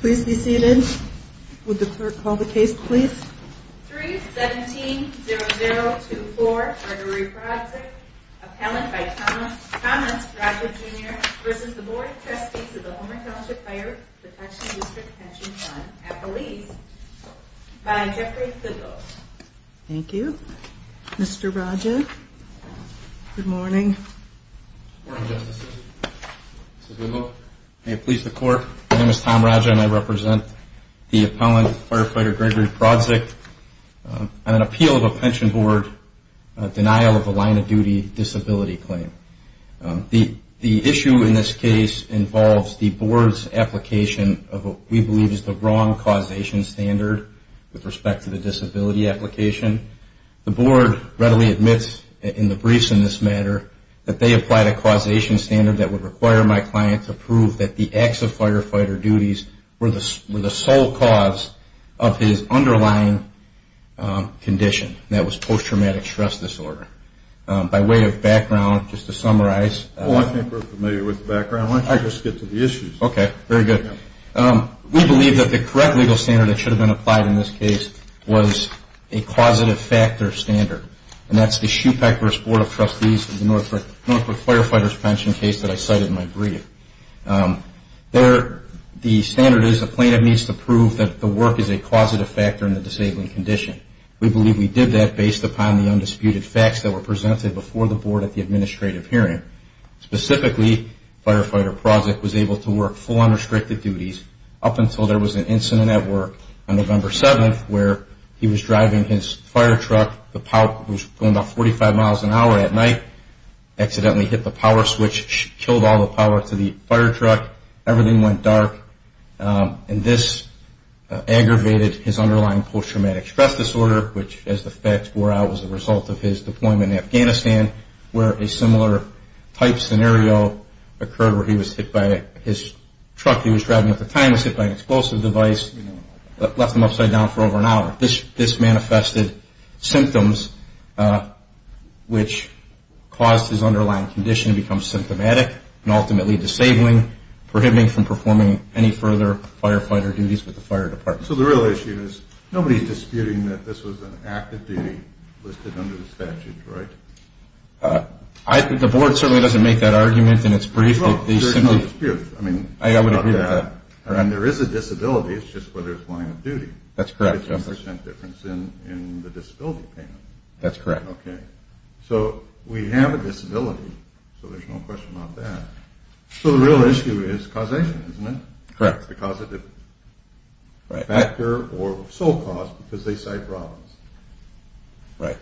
Please be seated. Would the clerk call the case please? 3-17-0024 Gregory Prawdzik, appellant by Thomas Prawdzik Jr. v. Board of Trustees of the Homer Township Fire Protection District Pension Fund at Belize by Jeffrey Thibault Thank you. Mr. Prawdzik, good morning. Good morning, Justice. Mr. Thibault. May it please the Court, my name is Tom Raja and I represent the appellant, Firefighter Gregory Prawdzik, on an appeal of a Pension Board denial of a line of duty disability claim. The issue in this case involves the Board's application of what we believe is the wrong causation standard with respect to the disability application. The Board readily admits in the briefs in this matter that they applied a causation standard that would require my client to prove that the acts of firefighter duties were the sole cause of his underlying condition. That was post-traumatic stress disorder. By way of background, just to summarize... Well, I think we're familiar with the background. Why don't you just get to the issues? Okay, very good. We believe that the correct legal standard that should have been applied in this case was a causative factor standard. And that's the Shoepecker's Board of Trustees of the Norfolk Firefighters Pension case that I cited in my brief. The standard is the plaintiff needs to prove that the work is a causative factor in the disabling condition. We believe we did that based upon the undisputed facts that were presented before the Board at the administrative hearing. Specifically, Firefighter Prozick was able to work full unrestricted duties up until there was an incident at work on November 7th where he was driving his firetruck, the power was going about 45 miles an hour at night, accidentally hit the power switch, killed all the power to the firetruck, everything went dark, and this aggravated his underlying post-traumatic stress disorder, which as the facts bore out was the result of his deployment in Afghanistan, where a similar type scenario occurred where he was hit by his truck he was driving at the time was hit by an explosive device, left him upside down for over an hour. This manifested symptoms which caused his underlying condition to become symptomatic and ultimately disabling, prohibiting from performing any further firefighter duties with the fire department. So the real issue is nobody is disputing that this was an act of duty listed under the statute, right? The Board certainly doesn't make that argument and it's brief. Well, there's no dispute about that. I would agree with that. And there is a disability, it's just whether it's line of duty. That's correct. 50% difference in the disability payment. That's correct. Okay. So we have a disability, so there's no question about that. So the real issue is causation, isn't it? Correct. Because of the factor or sole cause because they cite Robbins. Right.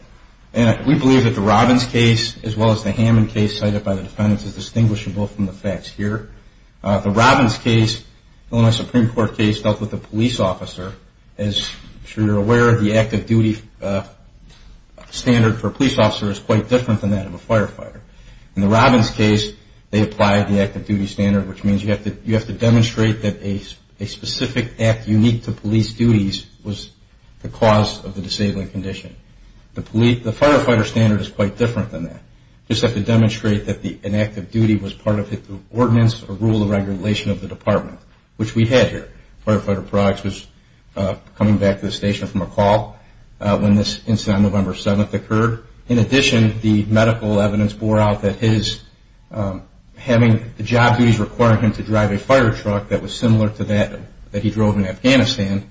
And we believe that the Robbins case as well as the Hammond case cited by the defendants is distinguishable from the facts here. The Robbins case, Illinois Supreme Court case, dealt with a police officer. As I'm sure you're aware, the act of duty standard for a police officer is quite different than that of a firefighter. In the Robbins case, they applied the act of duty standard, which means you have to demonstrate that a specific act unique to police duties was the cause of the disabling condition. The firefighter standard is quite different than that. You just have to demonstrate that an act of duty was part of the ordinance or rule of regulation of the department, which we had here. Firefighter products was coming back to the station from a call when this incident on November 7th occurred. In addition, the medical evidence bore out that the job duties requiring him to drive a fire truck that was similar to that he drove in Afghanistan,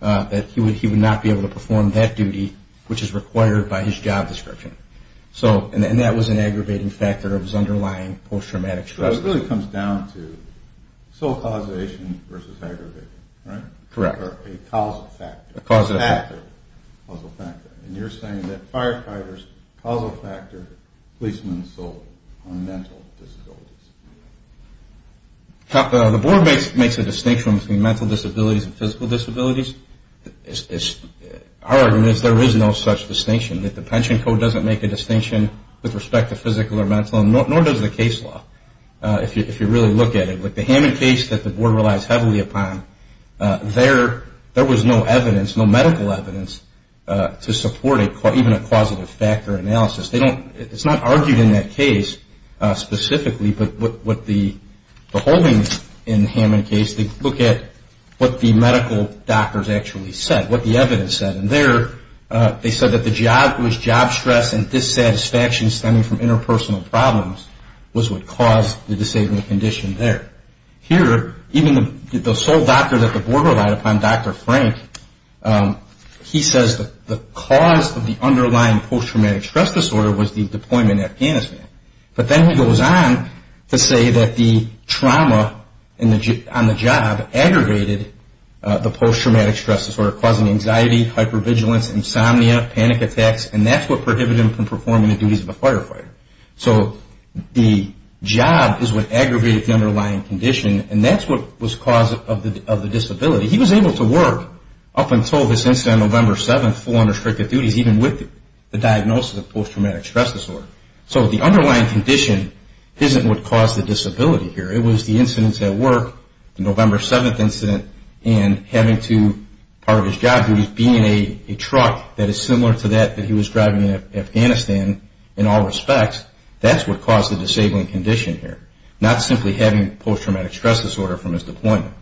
that he would not be able to perform that duty, which is required by his job description. And that was an aggravating factor of his underlying post-traumatic stress disorder. So it really comes down to sole causation versus aggravating, right? Correct. Or a causal factor. A causal factor. And you're saying that firefighters, causal factor, policemen sold on mental disabilities. The board makes a distinction between mental disabilities and physical disabilities. Our argument is there is no such distinction. The pension code doesn't make a distinction with respect to physical or mental, nor does the case law, if you really look at it. But the Hammond case that the board relies heavily upon, there was no evidence, no medical evidence to support even a causative factor analysis. It's not argued in that case specifically, but what the holdings in the Hammond case, they look at what the medical doctors actually said, what the evidence said. And there they said that the job was job stress and dissatisfaction stemming from interpersonal problems was what caused the saving condition there. Here, even the sole doctor that the board relied upon, Dr. Frank, he says that the cause of the underlying post-traumatic stress disorder was the deployment to Afghanistan. But then he goes on to say that the trauma on the job aggravated the post-traumatic stress disorder, causing anxiety, hypervigilance, insomnia, panic attacks, and that's what prohibited him from performing the duties of a firefighter. So the job is what aggravated the underlying condition, and that's what was the cause of the disability. He was able to work up until this incident on November 7th, full unrestricted duties, even with the diagnosis of post-traumatic stress disorder. So the underlying condition isn't what caused the disability here. It was the incidents at work, the November 7th incident, and having to, part of his job duties, being a truck that is similar to that that he was driving in Afghanistan in all respects, that's what caused the disabling condition here. Not simply having post-traumatic stress disorder from his deployment.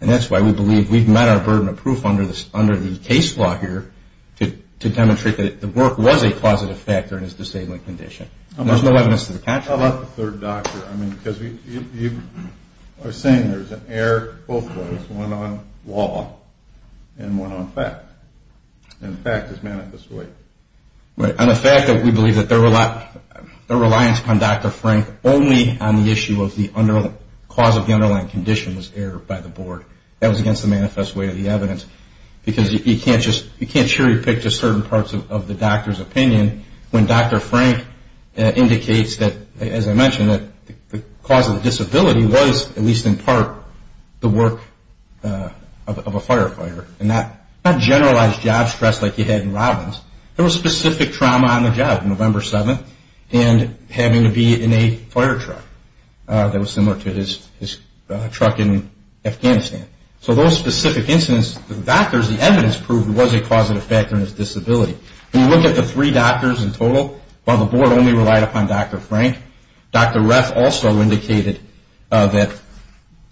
And that's why we believe we've met our burden of proof under the case law here to demonstrate that the work was a causative factor in his disabling condition. There's no evidence to the contrary. How about the third doctor? I mean, because you are saying there's an error both ways, one on law and one on fact. And the fact is manifest way. Right. On the fact that we believe that their reliance on Dr. Frank only on the issue of the underlying, cause of the underlying condition was errored by the board. That was against the manifest way of the evidence. Because you can't just, you can't cherry pick just certain parts of the doctor's opinion when Dr. Frank indicates that, as I mentioned, that the cause of the disability was, at least in part, the work of a firefighter. And not generalized job stress like you had in Robbins. There was specific trauma on the job, November 7th, and having to be in a fire truck that was similar to his truck in Afghanistan. So those specific incidents, the doctors, the evidence proved it was a causative factor in his disability. When you look at the three doctors in total, while the board only relied upon Dr. Frank, Dr. Ref also indicated that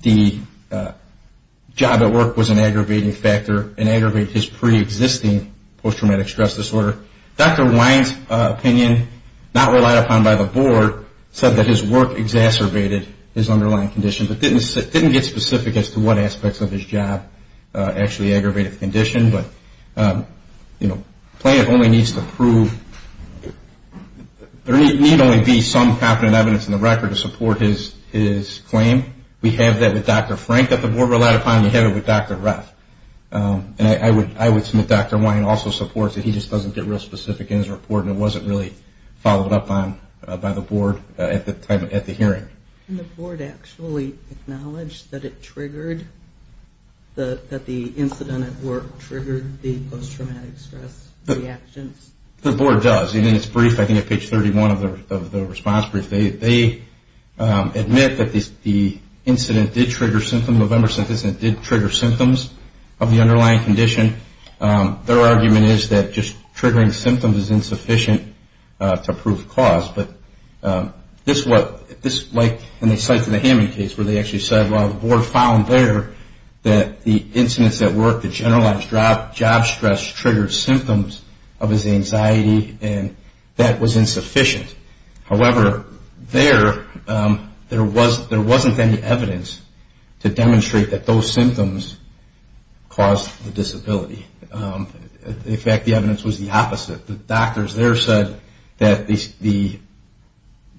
the job at work was an aggravating factor and aggravated his pre-existing post-traumatic stress disorder. Dr. Wine's opinion, not relied upon by the board, said that his work exacerbated his underlying condition, but didn't get specific as to what aspects of his job actually aggravated the condition. But the plan only needs to prove, there need only be some confident evidence in the record to support his claim. We have that with Dr. Frank that the board relied upon, and we have it with Dr. Ref. And I would submit Dr. Wine also supports that he just doesn't get real specific in his report and it wasn't really followed up on by the board at the hearing. Can the board actually acknowledge that it triggered, that the incident at work triggered the post-traumatic stress reactions? The board does, and in its brief, I think at page 31 of the response brief, they admit that the incident did trigger symptoms of Embersynthesis, and it did trigger symptoms of the underlying condition. Their argument is that just triggering symptoms is insufficient to prove cause. But this, like in the Hammond case, where they actually said, well the board found there that the incidents at work, the generalized job stress, triggered symptoms of his anxiety, and that was insufficient. However, there, there wasn't any evidence to demonstrate that those symptoms caused the disability. In fact, the evidence was the opposite. The doctors there said that the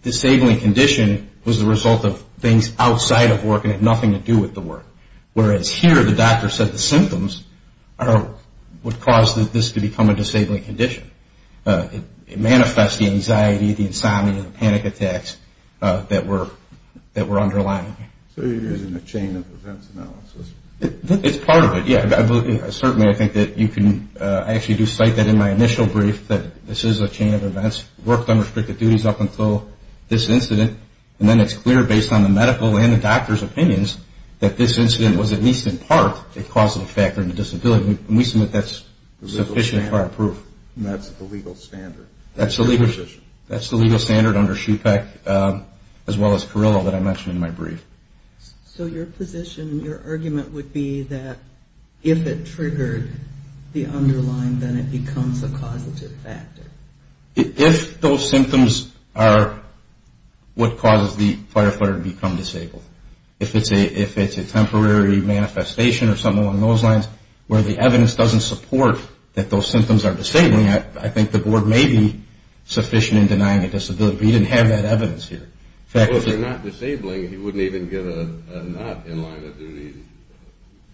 disabling condition was the result of things outside of work and had nothing to do with the work. Whereas here, the doctor said the symptoms are what caused this to become a disabling condition. It manifests the anxiety, the insomnia, the panic attacks that were underlying. So you're using a chain of events analysis? It's part of it, yeah. Certainly, I think that you can, I actually do cite that in my initial brief, that this is a chain of events. Worked under restricted duties up until this incident, and then it's clear based on the medical and the doctor's opinions that this incident was at least in part a causative factor in the disability. And we submit that's sufficient prior proof. And that's the legal standard. That's the legal standard under SHUPEC as well as Carrillo that I mentioned in my brief. So your position, your argument would be that if it triggered the underlying, then it becomes a causative factor? If those symptoms are what causes the firefighter to become disabled, if it's a temporary manifestation or something along those lines where the evidence doesn't support that those symptoms are disabling, I think the board may be sufficient in denying a disability. We didn't have that evidence here. Well, if they're not disabling, he wouldn't even get a not-in-line-of-duty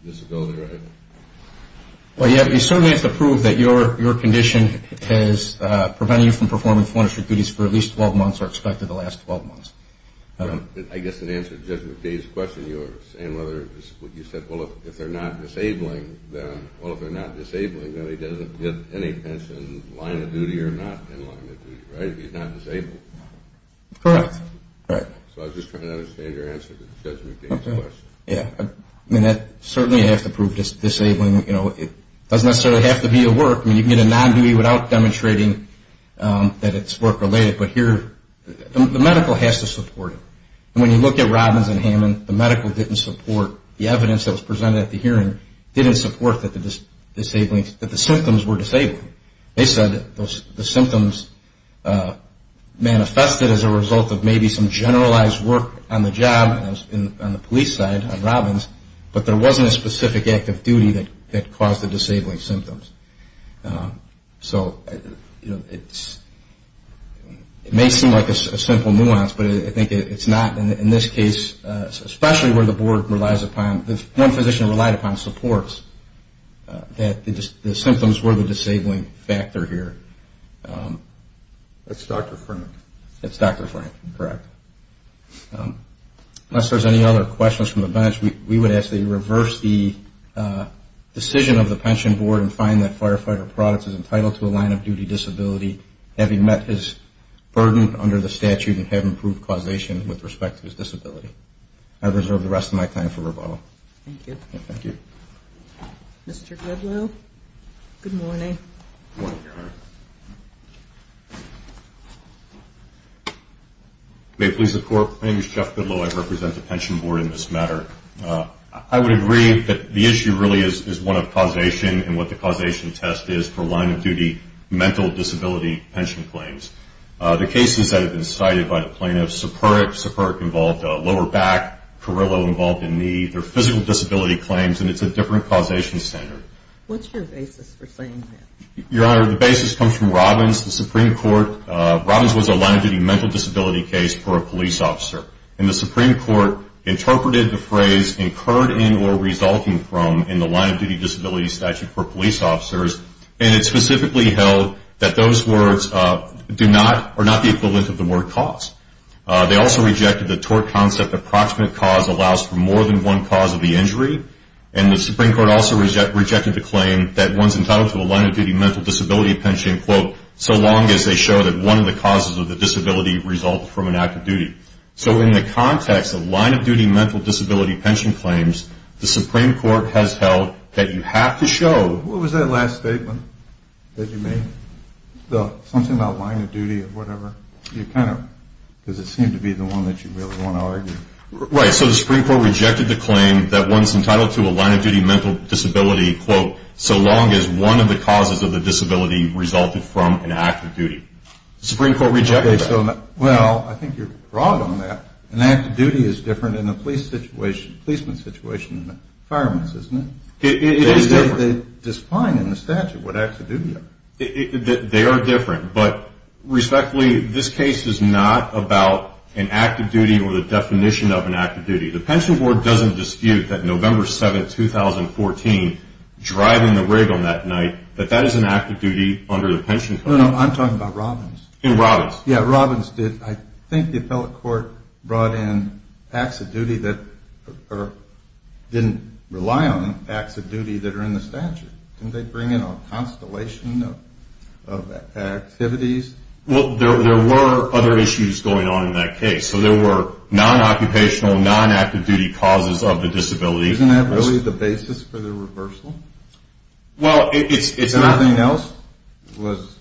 disability, right? Well, yeah. We certainly have to prove that your condition has prevented you from performing forensic duties for at least 12 months or expected the last 12 months. I guess in answer to Judge McDay's question, you were saying whether, you said, well, if they're not disabling, then he doesn't get any pension, line-of-duty or not-in-line-of-duty, right? If he's not disabled. Correct. All right. So I was just trying to understand your answer to Judge McDay's question. Yeah. I mean, that certainly has to prove disabling. You know, it doesn't necessarily have to be a work. I mean, you can get a non-duty without demonstrating that it's work-related. But here, the medical has to support it. And when you look at Robbins and Hammond, the medical didn't support the evidence that was presented at the hearing, didn't support that the symptoms were disabling. They said the symptoms manifested as a result of maybe some generalized work on the job on the police side on Robbins, but there wasn't a specific act of duty that caused the disabling symptoms. So, you know, it may seem like a simple nuance, but I think it's not. In this case, especially where the board relies upon, one physician relied upon supports that the symptoms were the disabling factor here. That's Dr. Frank. That's Dr. Frank. Correct. Unless there's any other questions from the bench, we would ask that you reverse the decision of the pension board and find that firefighter products is entitled to a line-of-duty disability, having met his burden under the statute and have improved causation with respect to his disability. I reserve the rest of my time for rebuttal. Thank you. Thank you. Mr. Goodlow. Good morning. Good morning, Your Honor. May it please the Court. My name is Jeff Goodlow. I represent the pension board in this matter. I would agree that the issue really is one of causation and what the causation test is for line-of-duty mental disability pension claims. The cases that have been cited by the plaintiffs, Superic, Superic involved lower back, Carrillo involved in knee, they're physical disability claims and it's a different causation standard. What's your basis for saying that? Your Honor, the basis comes from Robbins. The Supreme Court, Robbins was a line-of-duty mental disability case for a police officer. And the Supreme Court interpreted the phrase, incurred in or resulting from in the line-of-duty disability statute for police officers, and it specifically held that those words do not or are not the equivalent of the word cause. They also rejected the tort concept approximate cause allows for more than one cause of the injury. And the Supreme Court also rejected the claim that one's entitled to a line-of-duty mental disability pension, quote, so long as they show that one of the causes of the disability results from an act of duty. So in the context of line-of-duty mental disability pension claims, the Supreme Court has held that you have to show. What was that last statement that you made? Something about line-of-duty or whatever. You kind of, because it seemed to be the one that you really want to argue. Right. So the Supreme Court rejected the claim that one's entitled to a line-of-duty mental disability, quote, so long as one of the causes of the disability resulted from an act of duty. The Supreme Court rejected that. Well, I think you're wrong on that. An act of duty is different in a police situation, a policeman's situation than a fireman's, isn't it? It is different. They define in the statute what acts of duty are. They are different. But respectfully, this case is not about an act of duty or the definition of an act of duty. The pension board doesn't dispute that November 7, 2014, driving the rig on that night, that that is an act of duty under the pension code. No, no, no. I'm talking about Robbins. In Robbins. Yeah, Robbins did. I think the appellate court brought in acts of duty that didn't rely on acts of duty that are in the statute. Didn't they bring in a constellation of activities? Well, there were other issues going on in that case. So there were non-occupational, non-act of duty causes of the disability. Isn't that really the basis for the reversal? Well, it's not. Nothing else was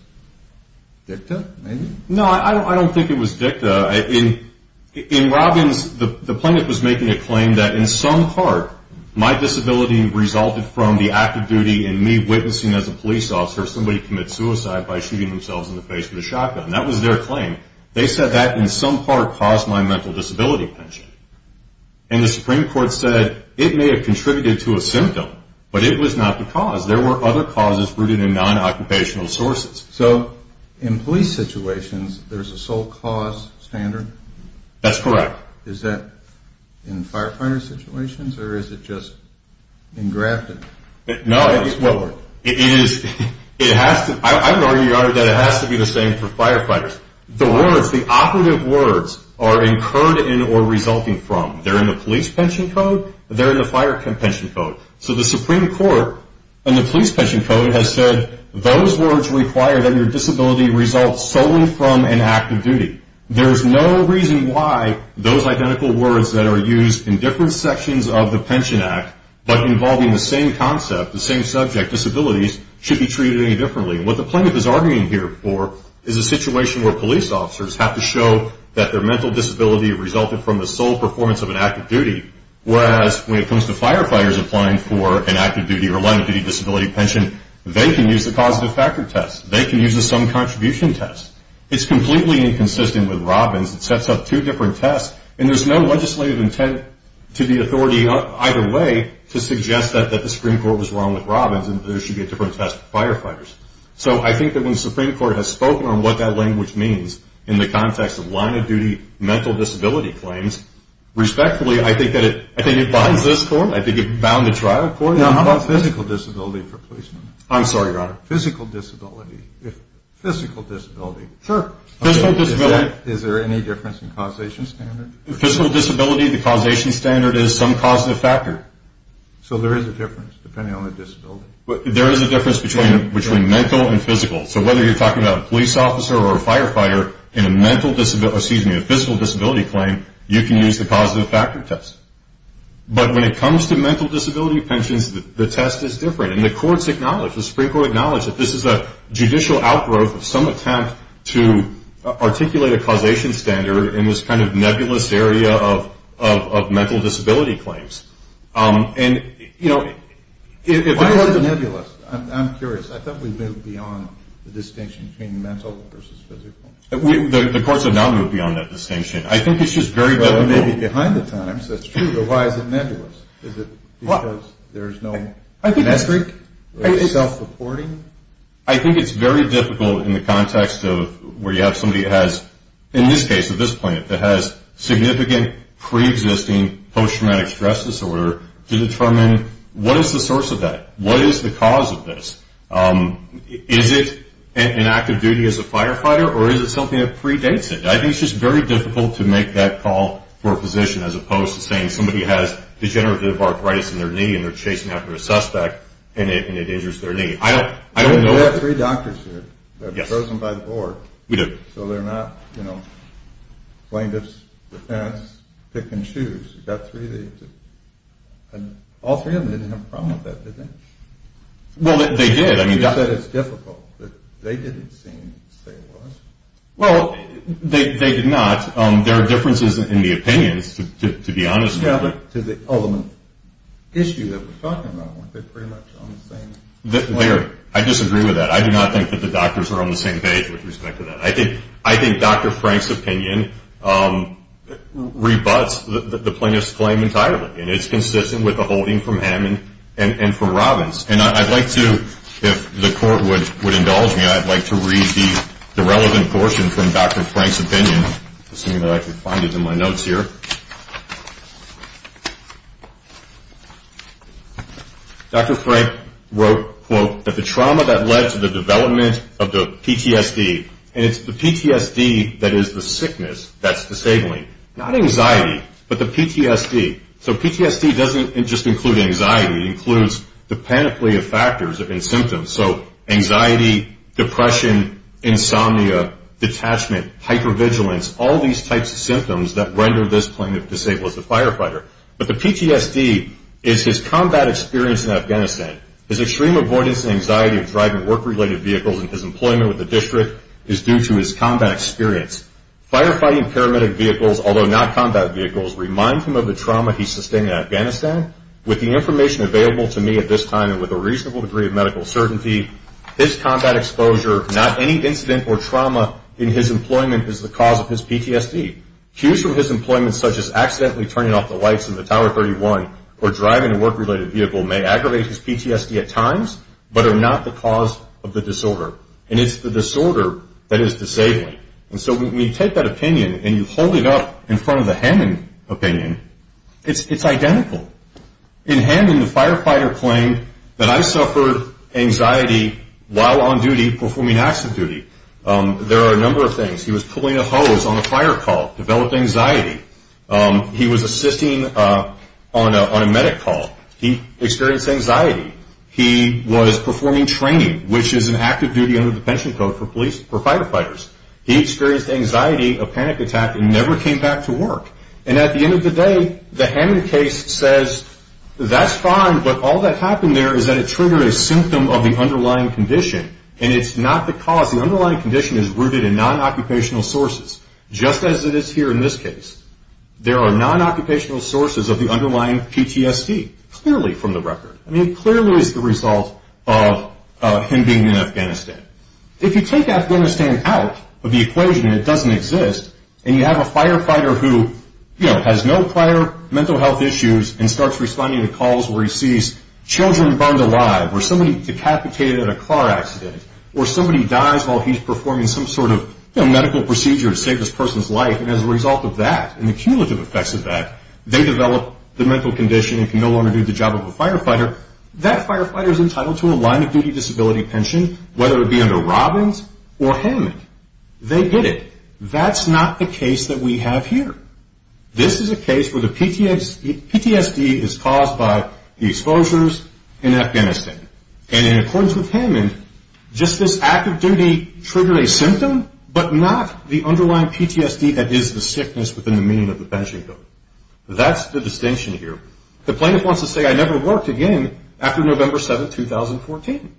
dicta, maybe? No, I don't think it was dicta. In Robbins, the plaintiff was making a claim that in some part my disability resulted from the act of duty and me witnessing as a police officer somebody commit suicide by shooting themselves in the face with a shotgun. That was their claim. They said that in some part caused my mental disability pension. And the Supreme Court said it may have contributed to a symptom, but it was not the cause. There were other causes rooted in non-occupational sources. So in police situations, there's a sole cause standard? That's correct. Is that in firefighter situations, or is it just engrafted? No, it is. I would argue, Your Honor, that it has to be the same for firefighters. The words, the operative words are incurred in or resulting from. They're in the police pension code. They're in the fire pension code. So the Supreme Court in the police pension code has said those words require that your disability result solely from an act of duty. There's no reason why those identical words that are used in different sections of the Pension Act but involving the same concept, the same subject, disabilities, shouldn't be treated any differently. What the plaintiff is arguing here for is a situation where police officers have to show that their mental disability resulted from the sole performance of an act of duty, whereas when it comes to firefighters applying for an act of duty or line of duty disability pension, they can use the causative factor test. They can use the sum contribution test. It's completely inconsistent with Robbins. It sets up two different tests. And there's no legislative intent to the authority either way to suggest that the Supreme Court was wrong with Robbins and there should be a different test for firefighters. So I think that when the Supreme Court has spoken on what that language means in the context of line of duty mental disability claims, respectfully, I think that it binds this court. I think it bound the trial court. How about physical disability for policemen? I'm sorry, Your Honor. Physical disability. Physical disability. Sure. Physical disability. Is there any difference in causation standard? Physical disability, the causation standard is some causative factor. So there is a difference depending on the disability. There is a difference between mental and physical. So whether you're talking about a police officer or a firefighter, in a physical disability claim, you can use the causative factor test. But when it comes to mental disability pensions, the test is different. And the courts acknowledge, the Supreme Court acknowledged, that this is a judicial outgrowth of some attempt to articulate a causation standard in this kind of nebulous area of mental disability claims. And, you know, if there is a... Why is it nebulous? I'm curious. I thought we moved beyond the distinction between mental versus physical. The courts have not moved beyond that distinction. I think it's just very difficult... Maybe behind the times. That's true. But why is it nebulous? Is it because there is no metric or self-reporting? I think it's very difficult in the context of where you have somebody that has, in this case, at this point, that has significant pre-existing post-traumatic stress disorder to determine what is the source of that, what is the cause of this. Is it an act of duty as a firefighter or is it something that predates it? I think it's just very difficult to make that call for a position as opposed to saying somebody has degenerative arthritis in their knee and they're chasing after a suspect and it injures their knee. I don't know... We have three doctors here. Yes. They're chosen by the board. We do. So they're not plaintiff's defense, pick and choose. You've got three of these. All three of them didn't have a problem with that, did they? Well, they did. You said it's difficult, but they didn't seem to say it was. Well, they did not. There are differences in the opinions, to be honest with you. Yeah, but to the ultimate issue that we're talking about, weren't they pretty much on the same page? I disagree with that. I do not think that the doctors are on the same page with respect to that. I think Dr. Frank's opinion rebuts the plaintiff's claim entirely, and it's consistent with the holding from Hammond and from Robbins. And I'd like to, if the court would indulge me, I'd like to read the relevant portion from Dr. Frank's opinion, assuming that I can find it in my notes here. Dr. Frank wrote, quote, that the trauma that led to the development of the PTSD, and it's the PTSD that is the sickness that's disabling, not anxiety, but the PTSD. So PTSD doesn't just include anxiety. It includes the panoply of factors and symptoms. So anxiety, depression, insomnia, detachment, hypervigilance, all these types of symptoms that render this plaintiff disabled as a firefighter. But the PTSD is his combat experience in Afghanistan. His extreme avoidance and anxiety of driving work-related vehicles and his employment with the district is due to his combat experience. Firefighting paramedic vehicles, although not combat vehicles, remind him of the trauma he sustained in Afghanistan. With the information available to me at this time and with a reasonable degree of medical certainty, his combat exposure, not any incident or trauma in his employment, is the cause of his PTSD. Cues from his employment, such as accidentally turning off the lights in the Tower 31 or driving a work-related vehicle, may aggravate his PTSD at times, but are not the cause of the disorder. And it's the disorder that is disabling. And so when you take that opinion and you hold it up in front of the Hammond opinion, it's identical. In Hammond, the firefighter claimed that, I suffered anxiety while on duty performing acts of duty. There are a number of things. He was pulling a hose on a fire call, developed anxiety. He was assisting on a medic call. He experienced anxiety. He was performing training, which is an active duty under the pension code for firefighters. He experienced anxiety, a panic attack, and never came back to work. And at the end of the day, the Hammond case says, that's fine, but all that happened there is that it triggered a symptom of the underlying condition. And it's not the cause. The underlying condition is rooted in non-occupational sources, just as it is here in this case. There are non-occupational sources of the underlying PTSD, clearly from the record. I mean, clearly it's the result of him being in Afghanistan. If you take Afghanistan out of the equation, it doesn't exist, and you have a firefighter who, you know, has no prior mental health issues and starts responding to calls where he sees children burned alive or somebody decapitated in a car accident or somebody dies while he's performing some sort of medical procedure to save this person's life, and as a result of that and the cumulative effects of that, they develop the mental condition and can no longer do the job of a firefighter, that firefighter is entitled to a line-of-duty disability pension, whether it be under Robbins or Hammond. They get it. That's not the case that we have here. This is a case where the PTSD is caused by the exposures in Afghanistan, and in accordance with Hammond, just this act of duty triggered a symptom, but not the underlying PTSD that is the sickness within the meaning of the pension bill. That's the distinction here. The plaintiff wants to say, I never worked again after November 7, 2014.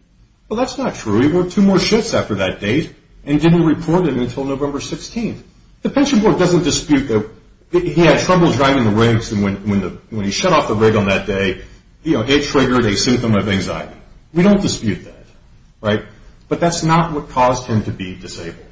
Well, that's not true. He worked two more shifts after that date and didn't report it until November 16. The pension board doesn't dispute that he had trouble driving the rigs, and when he shut off the rig on that day, it triggered a symptom of anxiety. We don't dispute that. But that's not what caused him to be disabled.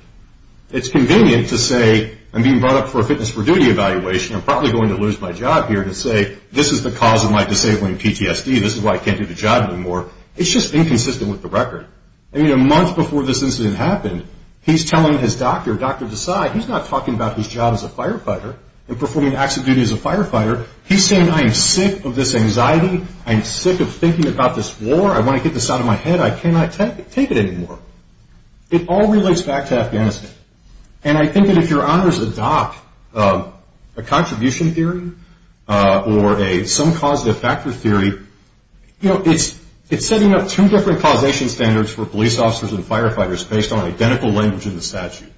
It's convenient to say, I'm being brought up for a fitness for duty evaluation, I'm probably going to lose my job here, to say this is the cause of my disabling PTSD, this is why I can't do the job anymore. It's just inconsistent with the record. A month before this incident happened, he's telling his doctor, Dr. Desai, he's not talking about his job as a firefighter and performing acts of duty as a firefighter. He's saying, I'm sick of this anxiety, I'm sick of thinking about this war, I want to get this out of my head, I cannot take it anymore. It all relates back to Afghanistan. And I think that if your honors adopt a contribution theory or some causative factor theory, it's setting up two different causation standards for police officers and firefighters based on identical language in the statute.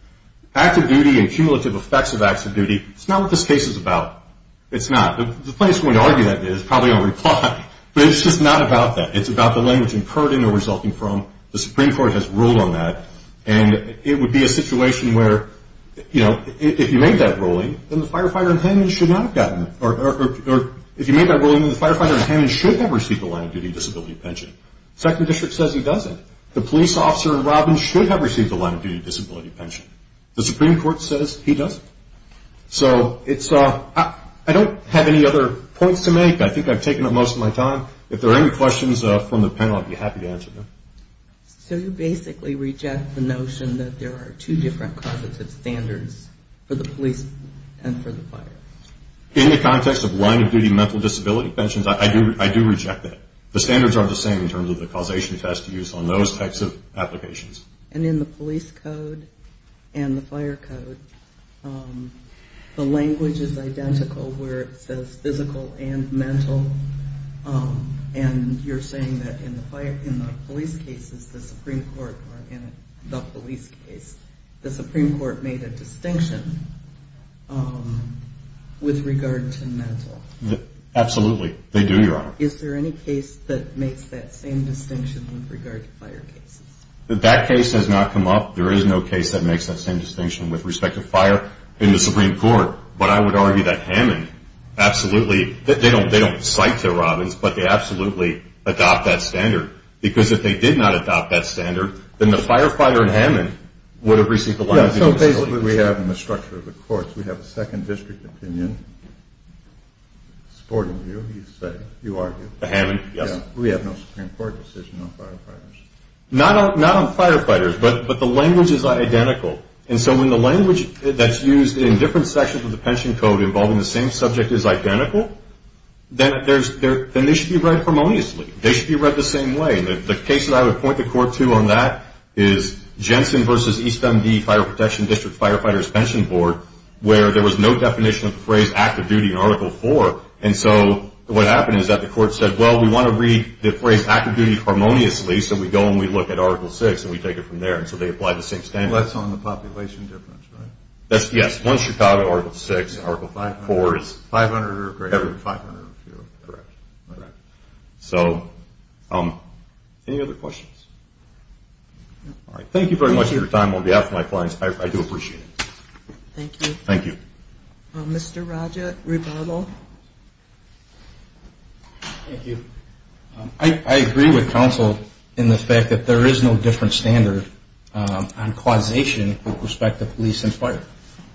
Active duty and cumulative effects of active duty, it's not what this case is about. It's not. The plaintiff is going to argue that it is, probably in reply. But it's just not about that. It's about the language incurred in or resulting from. The Supreme Court has ruled on that. And it would be a situation where, you know, if you made that ruling, then the firefighter in hand should not have gotten, or if you made that ruling, then the firefighter in hand should have received a line of duty disability pension. Second District says he doesn't. The police officer in Robin should have received a line of duty disability pension. The Supreme Court says he doesn't. So I don't have any other points to make. I think I've taken up most of my time. If there are any questions from the panel, I'd be happy to answer them. So you basically reject the notion that there are two different causative standards for the police and for the fire? In the context of line of duty mental disability pensions, I do reject that. The standards aren't the same in terms of the causation test used on those types of applications. And in the police code and the fire code, the language is identical, where it says physical and mental. And you're saying that in the police cases, the Supreme Court, or in the police case, the Supreme Court made a distinction with regard to mental. Absolutely. They do, Your Honor. Is there any case that makes that same distinction with regard to fire cases? That case has not come up. There is no case that makes that same distinction with respect to fire in the Supreme Court. But I would argue that Hammond absolutely, they don't cite to Robbins, but they absolutely adopt that standard. Because if they did not adopt that standard, then the firefighter in Hammond would have received a line of duty disability. So basically what we have in the structure of the courts, we have a Second District opinion. Supporting you, you say, you argue. Hammond, yes. We have no Supreme Court decision on firefighters. Not on firefighters, but the language is identical. And so when the language that's used in different sections of the pension code involving the same subject is identical, then they should be read harmoniously. They should be read the same way. The case that I would point the court to on that is Jensen v. East MD Fire Protection District Firefighters Pension Board, where there was no definition of the phrase active duty in Article 4. And so what happened is that the court said, well, we want to read the phrase active duty harmoniously, so we go and we look at Article 6 and we take it from there. And so they applied the same standard. Less on the population difference, right? Yes. One Chicago, Article 6. Article 4 is 500 or fewer. Correct. All right. So any other questions? No. All right. Thank you very much for your time. On behalf of my clients, I do appreciate it. Thank you. Thank you. Mr. Raja, rebuttal. Thank you. I agree with counsel in the fact that there is no different standard on causation with respect to police and fire.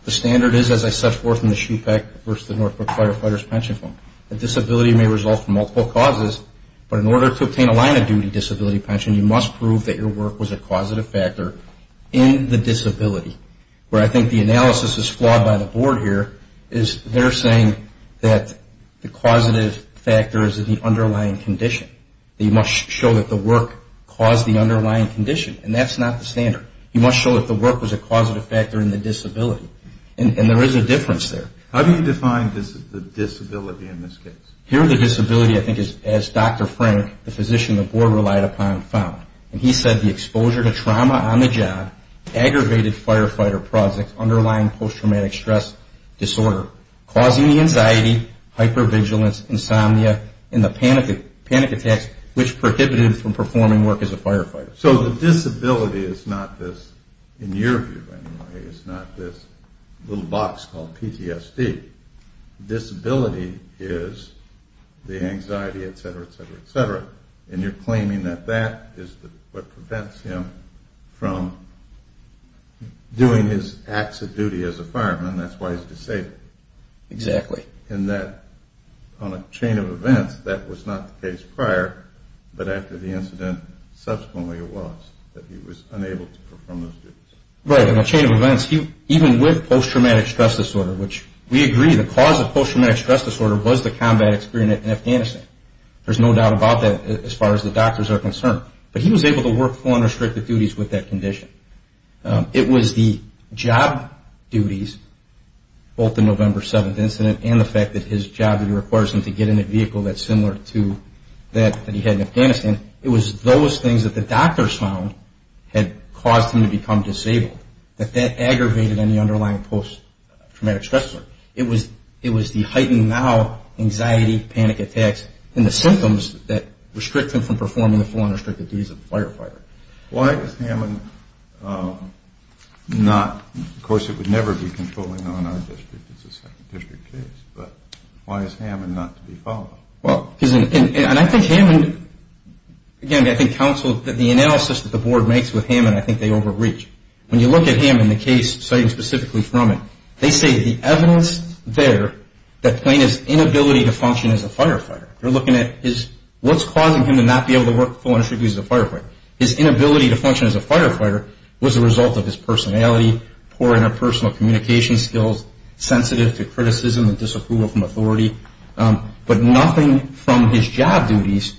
The standard is, as I set forth in the SHPEC v. the Norfolk Firefighters Pension Fund, that disability may result from multiple causes, but in order to obtain a line of duty disability pension, you must prove that your work was a causative factor in the disability. Where I think the analysis is flawed by the board here, is they're saying that the causative factor is in the underlying condition. You must show that the work caused the underlying condition. And that's not the standard. You must show that the work was a causative factor in the disability. And there is a difference there. How do you define the disability in this case? Here the disability, I think, is, as Dr. Frank, the physician the board relied upon, found. And he said the exposure to trauma on the job aggravated firefighter projects underlying post-traumatic stress disorder, causing the anxiety, hypervigilance, insomnia, and the panic attacks, which prohibited him from performing work as a firefighter. So the disability is not this, in your view anyway, is not this little box called PTSD. Disability is the anxiety, et cetera, et cetera, et cetera. And you're claiming that that is what prevents him from doing his acts of duty as a fireman, and that's why he's disabled. Exactly. And that on a chain of events, that was not the case prior, but after the incident subsequently it was, that he was unable to perform those duties. Right. On a chain of events, even with post-traumatic stress disorder, which we agree, the cause of post-traumatic stress disorder was the combat experience in Afghanistan. There's no doubt about that as far as the doctors are concerned. But he was able to work full unrestricted duties with that condition. It was the job duties, both the November 7th incident and the fact that his job duty requires him to get in a vehicle that's similar to that that he had in Afghanistan, it was those things that the doctors found had caused him to become disabled, that that aggravated any underlying post-traumatic stress disorder. It was the heightened now anxiety, panic attacks, and the symptoms that restrict him from performing the full unrestricted duties of a firefighter. Why is Hammond not, of course it would never be controlling on our district, it's a second district case, but why is Hammond not to be followed? Well, because, and I think Hammond, again, I think counsel, the analysis that the board makes with Hammond I think they overreach. When you look at Hammond, the case citing specifically from it, they say the evidence there that plain is inability to function as a firefighter. They're looking at what's causing him to not be able to work full unrestricted duties as a firefighter. His inability to function as a firefighter was a result of his personality, poor interpersonal communication skills, sensitive to criticism and disapproval from authority. But nothing from his job duties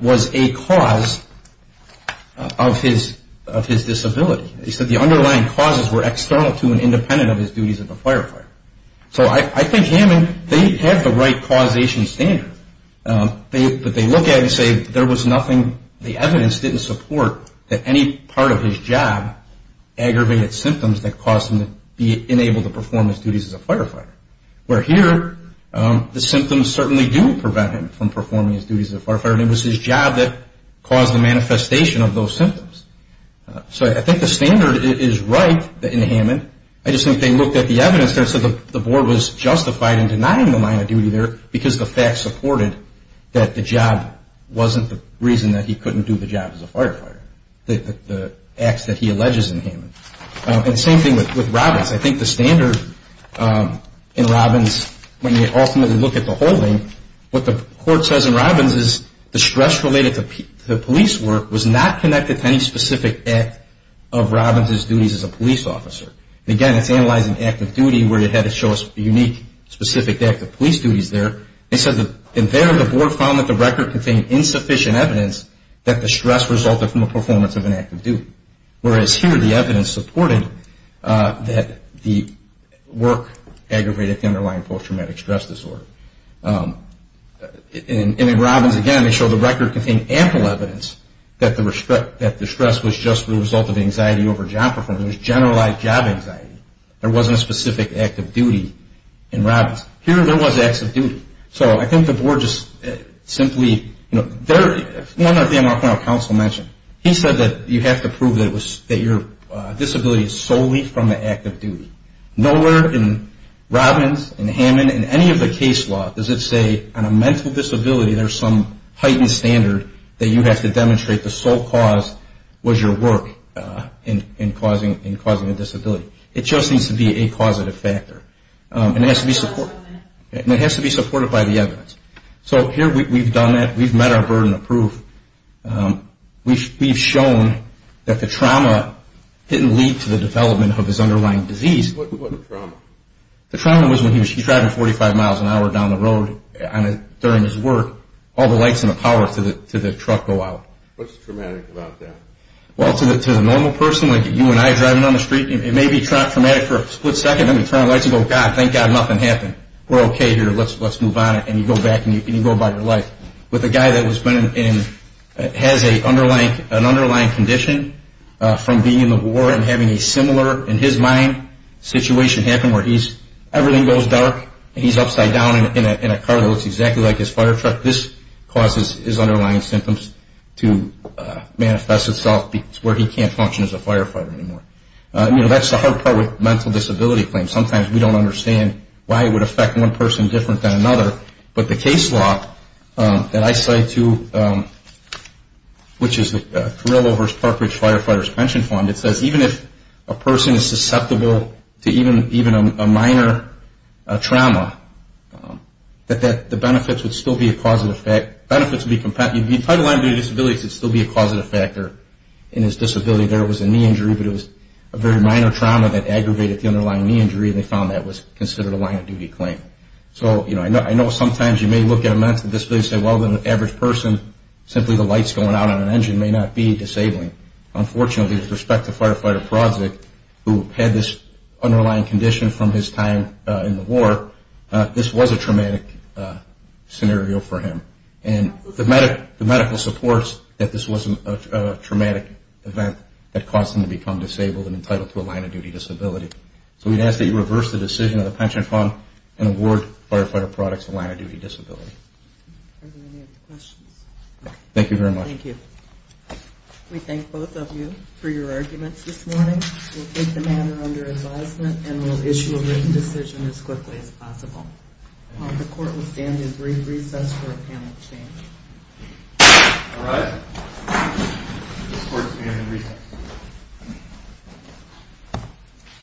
was a cause of his disability. They said the underlying causes were external to and independent of his duties as a firefighter. So I think Hammond, they have the right causation standard. But they look at it and say there was nothing, the evidence didn't support that any part of his job aggravated symptoms that caused him to be unable to perform his duties as a firefighter. Where here, the symptoms certainly do prevent him from performing his duties as a firefighter and it was his job that caused the manifestation of those symptoms. So I think the standard is right in Hammond. I just think they looked at the evidence there and said the board was justified in denying the minor duty there because the facts supported that the job wasn't the reason that he couldn't do the job as a firefighter, the acts that he alleges in Hammond. And same thing with Robbins. I think the standard in Robbins, when you ultimately look at the holding, what the court says in Robbins is the stress related to police work was not connected to any specific act of Robbins' duties as a police officer. Again, it's analyzing active duty where it had to show a unique specific act of police duties there. And there the board found that the record contained insufficient evidence that the stress resulted from the performance of an active duty. Whereas here the evidence supported that the work aggravated the underlying post-traumatic stress disorder. And in Robbins, again, they show the record contained ample evidence that the stress was just the result of anxiety over job performance. It was generalized job anxiety. There wasn't a specific act of duty in Robbins. Here there was acts of duty. So I think the board just simply, you know, one of the things our counsel mentioned, he said that you have to prove that your disability is solely from the act of duty. Nowhere in Robbins, in Hammond, in any of the case law does it say on a mental disability there's some heightened standard that you have to demonstrate the sole cause was your work in causing a disability. It just needs to be a causative factor. And it has to be supported by the evidence. So here we've done that. We've met our burden of proof. We've shown that the trauma didn't lead to the development of his underlying disease. What trauma? The trauma was when he was driving 45 miles an hour down the road during his work, all the lights and the power to the truck go out. What's traumatic about that? Well, to the normal person, like you and I driving down the street, it may be traumatic for a split second and then you turn on the lights and go, God, thank God nothing happened. We're okay here. Let's move on. And you go back and you go about your life. With a guy that has an underlying condition from being in the war and having a similar, in his mind, situation happen where everything goes dark and he's upside down in a car that looks exactly like his fire truck, this causes his underlying symptoms to manifest itself where he can't function as a firefighter anymore. You know, that's the hard part with mental disability claims. Sometimes we don't understand why it would affect one person different than another. But the case law that I cite too, which is the Carrillo vs. Parkridge Firefighters Pension Fund, it says even if a person is susceptible to even a minor trauma, that the benefits would still be a causative factor. Benefits would be competitive. If he had an underlying disability, it would still be a causative factor in his disability. There was a knee injury, but it was a very minor trauma that aggravated the underlying knee injury and they found that was considered a line of duty claim. So, you know, I know sometimes you may look at a mental disability and say, well, an average person, simply the lights going out on an engine may not be disabling. Unfortunately, with respect to Firefighter Prozick, who had this underlying condition from his time in the war, this was a traumatic scenario for him. And the medical supports that this was a traumatic event that caused him to become disabled and entitled to a line of duty disability. So we'd ask that you reverse the decision of the pension fund and award Firefighter Prozick a line of duty disability. Thank you very much. Thank you. We thank both of you for your arguments this morning. We'll take the matter under advisement and we'll issue a written decision as quickly as possible. The court will stand in brief recess for a panel exchange. All right. This court is in recess.